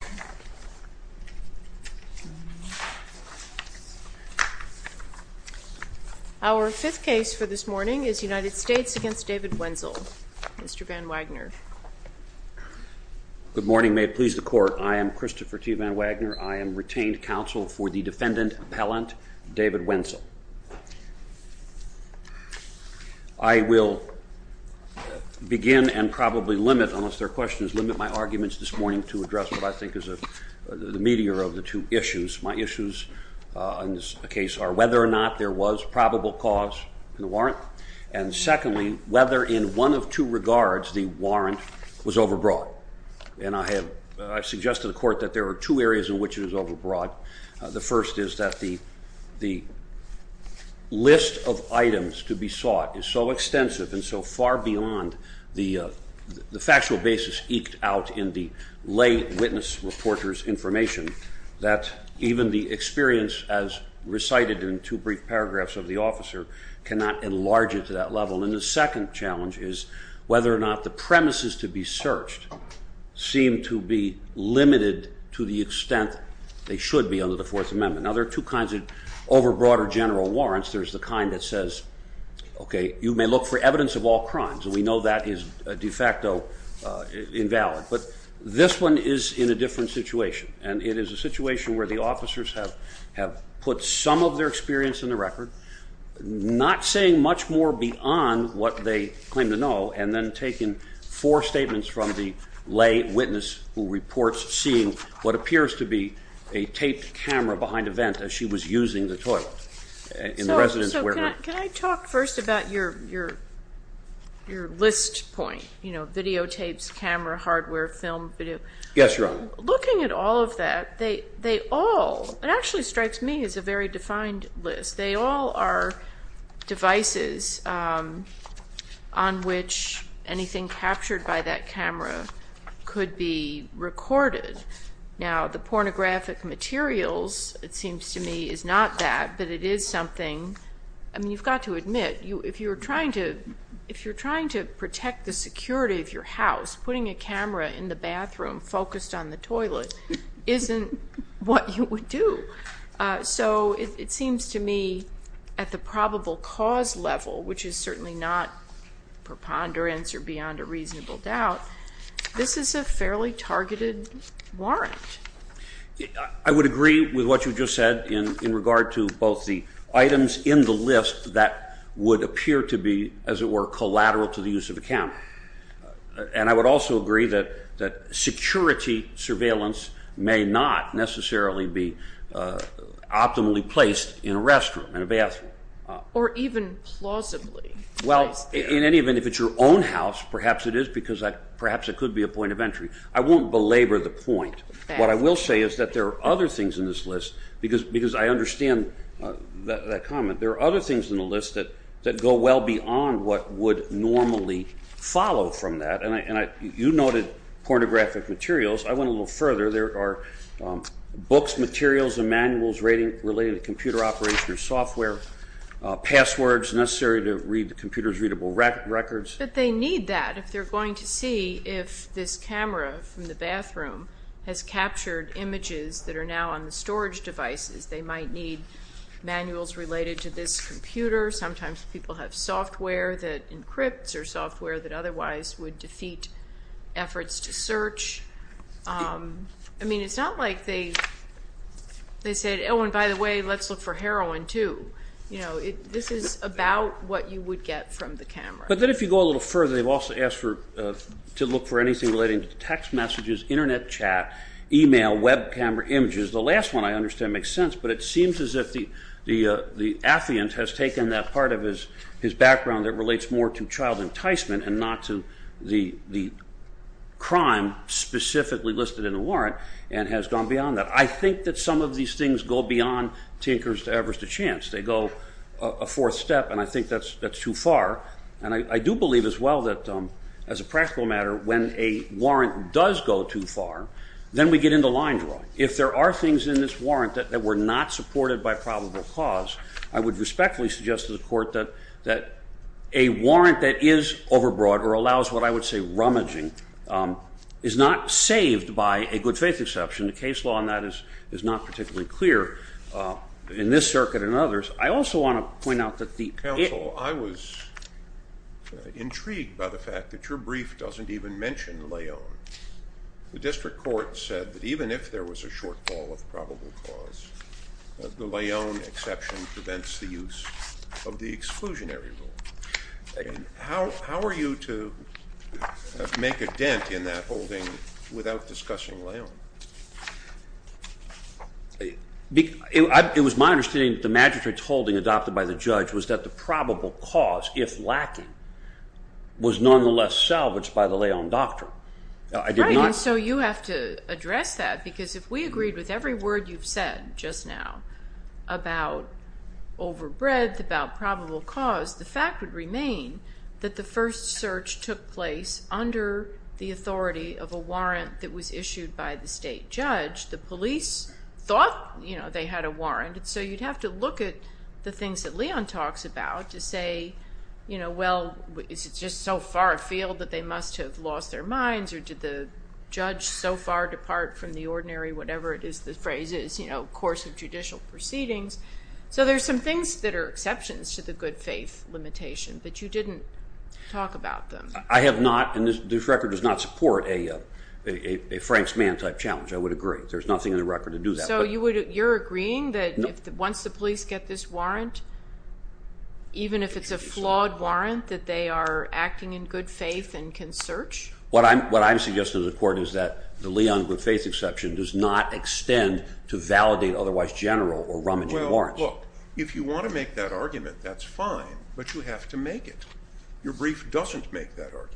Good morning. May it please the Court, I am Christopher T. Van Wagner. I am retained counsel for the defendant appellant, David Wenzel. I will begin and probably limit, unless there is a delay, because of the meteor of the two issues. My issues in this case are whether or not there was probable cause in the warrant, and secondly, whether in one of two regards the warrant was overbroad. And I have suggested to the Court that there are two areas in which it is overbroad. The first is that the list of items to be sought is so extensive and so far beyond the factual basis eked out in the lay witness reporter's information that even the experience as recited in two brief paragraphs of the officer cannot enlarge it to that level. And the second challenge is whether or not the premises to be searched seem to be limited to the extent they should be under the Fourth Amendment. Now there are two kinds of overbroad or general warrants. There is the kind that says, okay, you may look for evidence of all crimes, and we know that is de facto invalid. But this one is in a different situation, and it is a situation where the officers have put some of their experience in the record, not saying much more beyond what they claim to know, and then taking four statements from the lay witness who reports seeing what appears to be a taped camera behind a vent as she was using the toilet in the residence where her... Can I talk first about your list point, videotapes, camera, hardware, film, video? Yes, Your Honor. Looking at all of that, they all, it actually strikes me as a very defined list. They all are devices on which anything captured by that camera could be recorded. Now the pornographic materials, it seems to me, is not that, but it is something... I mean, you've got to admit, if you're trying to protect the security of your house, putting a camera in the bathroom focused on the toilet isn't what you would do. So it seems to me at the probable cause level, which is certainly not preponderance or beyond a reasonable doubt, this is a fairly targeted warrant. I would agree with what you just said in regard to both the items in the list that would appear to be, as it were, collateral to the use of the camera. And I would also agree that security surveillance may not necessarily be optimally placed in a restroom, in a bathroom. Or even plausibly placed there. Well, in any event, if it's your own house, perhaps it is, because perhaps it could be a point of entry. I won't belabor the point. What I will say is that there are other things in this list, because I understand that comment, there are other things in the list that go well beyond what would normally follow from that. And you noted pornographic materials. I went a little further. There are books, materials, and manuals relating to computer operation or software. Passwords necessary to read the computer's readable records. But they need that if they're going to see if this camera from the bathroom has captured images that are now on the storage devices. They might need manuals related to this computer. Sometimes people have software that encrypts or software that otherwise would defeat efforts to search. I mean, it's not like they said, oh, and by the way, let's look for heroin, too. You know, this is about what you would get from the camera. But then if you go a little further, they've also asked to look for anything relating to text messages, internet chat, email, web camera images. The last one I understand makes sense, but it seems as if the affiant has taken that part of his background that relates more to child enticement and not to the crime specifically listed in the warrant and has gone beyond that. I think that some of these things go beyond Tinker's Everest of Chance. They go a fourth step, and I think that's too far. And I do believe as well that as a practical matter, when a warrant does go too far, then we get into line drawing. If there are things in this warrant that were not supported by probable cause, I would respectfully suggest to the court that a warrant that is overbroad or allows what I would say rummaging is not saved by a good faith exception. The case law on that is not particularly clear in this case. I also want to point out that the... Counsel, I was intrigued by the fact that your brief doesn't even mention Leone. The district court said that even if there was a shortfall of probable cause, the Leone exception prevents the use of the exclusionary rule. How are you to make a dent in that holding without discussing Leone? It was my understanding that the magistrate's holding adopted by the judge was that the probable cause, if lacking, was nonetheless salvaged by the Leone Doctrine. Right, and so you have to address that because if we agreed with every word you've said just now about overbreadth, about probable cause, the fact would remain that the first search took place under the authority of a warrant that was issued by the state judge. The police thought they had a warrant, and so you'd have to look at the things that Leone talks about to say, well, is it just so far afield that they must have lost their minds, or did the judge so far depart from the ordinary, whatever it is the phrase is, course of judicial proceedings. So there's some things that are exceptions to the good faith limitation, but you didn't talk about them. I have not, and this record does not support a Frank's man type challenge, I would get this warrant, even if it's a flawed warrant, that they are acting in good faith and can search. What I'm suggesting to the court is that the Leone good faith exception does not extend to validate otherwise general or rummaging warrants. Well, look, if you want to make that argument, that's fine, but you have to make it. Your brief doesn't make that argument.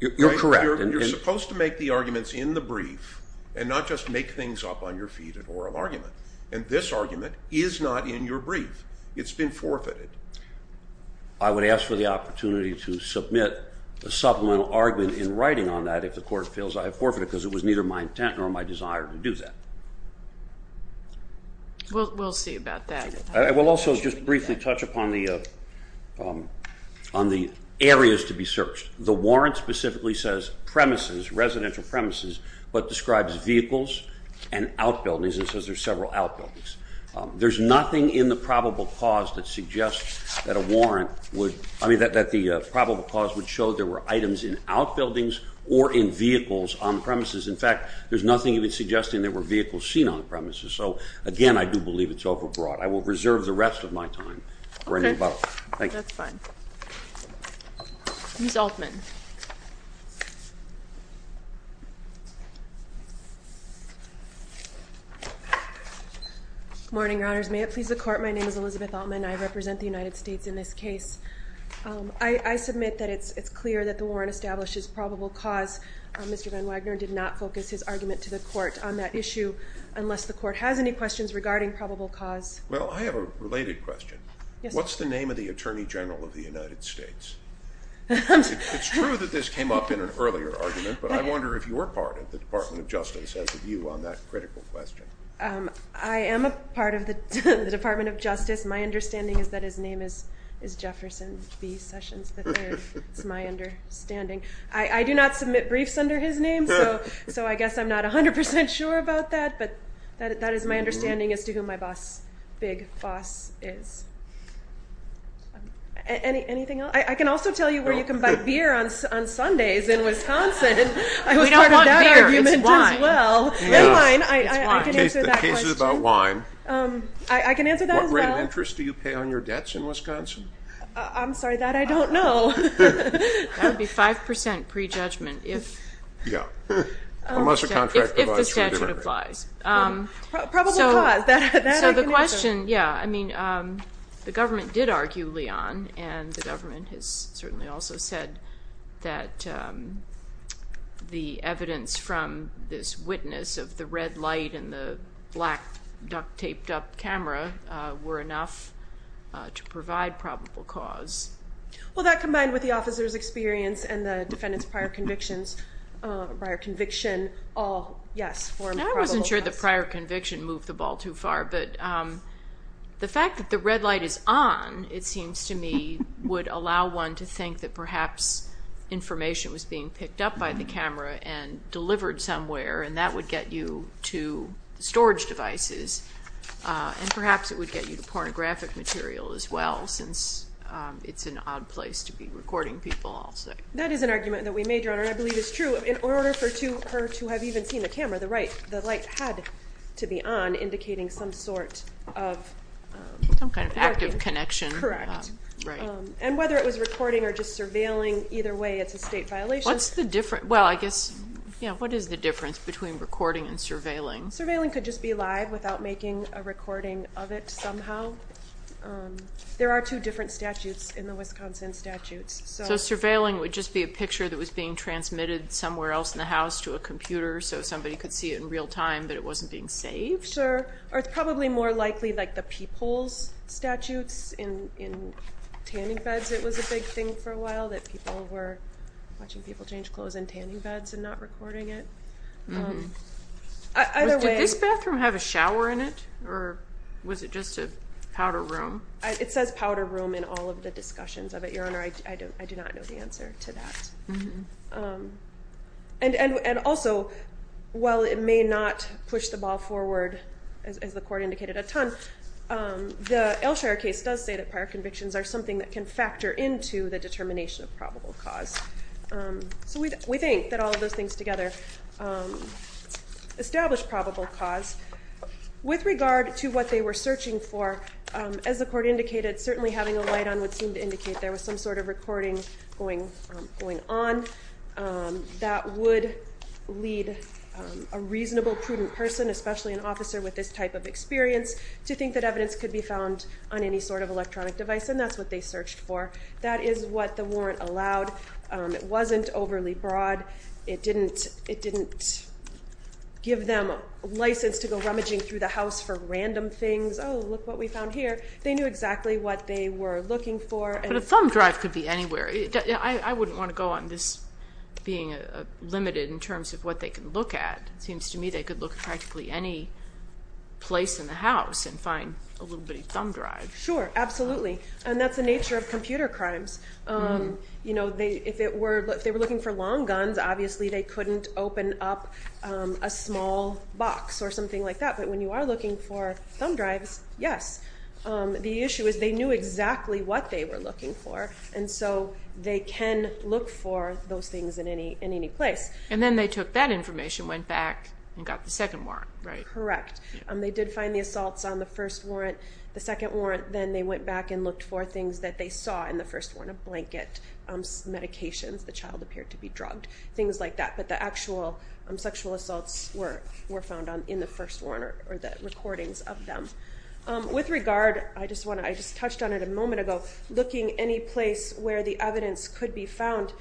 You're correct. You're supposed to make the arguments in the brief and not just make things up on your feet in oral argument, and this argument is not in your brief. It's been forfeited. I would ask for the opportunity to submit a supplemental argument in writing on that if the court feels I have forfeited because it was neither my intent nor my desire to do that. We'll see about that. I will also just briefly touch upon the areas to be searched. The warrant specifically says premises, residential premises, but describes vehicles and outbuildings and says there's several outbuildings. There's nothing in the probable cause that suggests that a warrant would, I mean, that the probable cause would show there were items in outbuildings or in vehicles on the premises. In fact, there's nothing even suggesting there were vehicles seen on the premises. So, again, I do believe it's overbroad. I will reserve the rest of my time. Okay. That's fine. Ms. Altman. Good morning, Your Honors. May it please the Court, my name is Elizabeth Altman. I represent the United States in this case. I submit that it's clear that the warrant establishes probable cause. Mr. Van Wagner did not focus his argument to the court on that issue unless the court has any questions regarding probable cause. Well, I have a related question. What's the name of the Attorney General of the United States? It's true that this came up in an earlier argument, but I wonder if you were part of the Department of Justice as a view on that critical question. I am a part of the Department of Justice. My understanding is that his name is Jefferson B. Sessions III. That's my understanding. I do not submit briefs under his name, so I guess I'm not 100 percent sure about that, but that is my fuss. Anything else? I can also tell you where you can buy beer on Sundays in Wisconsin. I was part of that argument as well. The case is about wine. I can answer that as well. What rate of interest do you pay on your debts in Wisconsin? I'm sorry, that I don't know. That would be 5 percent. The government did argue, Leon, and the government has certainly also said that the evidence from this witness of the red light and the black duct-taped up camera were enough to provide probable cause. Well, that combined with the officer's experience and the defendant's prior conviction all formed probable cause. I wasn't sure the prior conviction moved the ball too far, but the fact that the red light is on, it seems to me, would allow one to think that perhaps information was being picked up by the camera and delivered somewhere, and that would get you to storage devices, and perhaps it would get you to pornographic material as well, since it's an odd place to be recording people, I'll say. That is an argument that we made, Your Honor, and I believe it's true. In order for her to have even seen the camera, the light had to be on, indicating some sort of connection, and whether it was recording or just surveilling, either way, it's a state violation. What's the difference? Well, I guess, you know, what is the difference between recording and surveilling? Surveilling could just be live without making a recording of it somehow. There are two different statutes in the Wisconsin statutes. So surveilling would just be a picture that was being transmitted somewhere else in the house to a computer so somebody could see it in real time, but it wasn't being saved? Sure, or it's probably more likely like the people's statutes in tanning beds. It was a big thing for a while that people were watching people change clothes in tanning beds and not recording it. Did this bathroom have a shower in it, or was it just a powder room? It says powder room in all of the discussions of it, I do not know the answer to that. And also, while it may not push the ball forward, as the court indicated, a ton, the Elshire case does say that prior convictions are something that can factor into the determination of probable cause. So we think that all of those things together establish probable cause. With regard to what they were searching for, as the court indicated, certainly having a light on would seem to indicate there was some sort of recording going on. That would lead a reasonable, prudent person, especially an officer with this type of experience, to think that evidence could be found on any sort of electronic device, and that's what they searched for. That is what the warrant allowed. It wasn't overly broad. It didn't give them a license to go rummaging through the house for random things. Oh, look what we found here. They knew exactly what they were looking for. But a thumb drive could be anywhere. I wouldn't want to go on this being limited in terms of what they could look at. It seems to me they could look at practically any place in the house and find a little bitty thumb drive. Sure, absolutely. And that's the nature of computer crimes. If they were looking for long guns, obviously they couldn't open up a small box or something like that. But when you are looking for thumb drives, yes. The issue is they knew exactly what they were looking for, and so they can look for those things in any place. And then they took that information, went back, and got the second warrant, right? Correct. They did find the assaults on the first warrant, the second warrant, then they went back and looked for things that they saw in the first warrant. A blanket, medications, the child appeared to be drugged, things like that. But the actual sexual assaults were found in the first With regard, I just touched on it a moment ago, looking any place where the evidence could be found,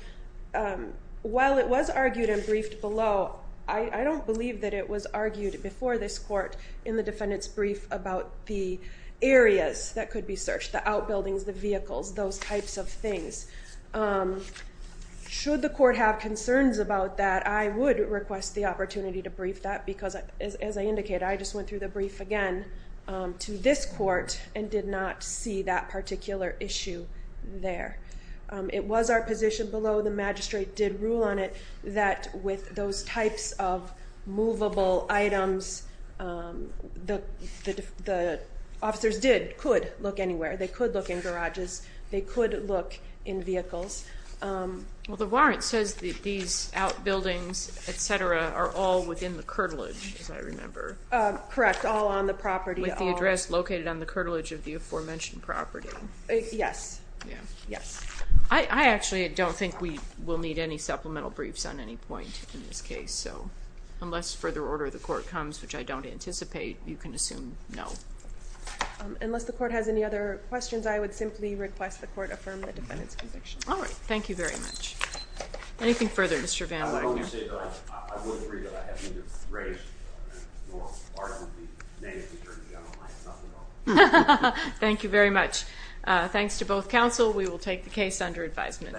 while it was argued and briefed below, I don't believe that it was argued before this court in the defendant's brief about the areas that could be searched, the outbuildings, the vehicles, those types of things. Should the court have concerns about that, I would request the to this court and did not see that particular issue there. It was our position below, the magistrate did rule on it, that with those types of movable items, the officers did, could look anywhere. They could look in garages. They could look in vehicles. Well, the warrant says that these outbuildings, etc., are all within the curtilage, as I remember. Correct. All on the property. With the address located on the curtilage of the aforementioned property. Yes. Yes. I actually don't think we will need any supplemental briefs on any point in this case, so unless further order of the court comes, which I don't anticipate, you can assume no. Unless the court has any other questions, I would simply request the court affirm the defendant's conviction. I can only say that I would agree that I haven't been raised in the government, nor part of the name of the Attorney General. I have nothing on me. Thank you very much. Thanks to both counsel. We will take the case under advisement.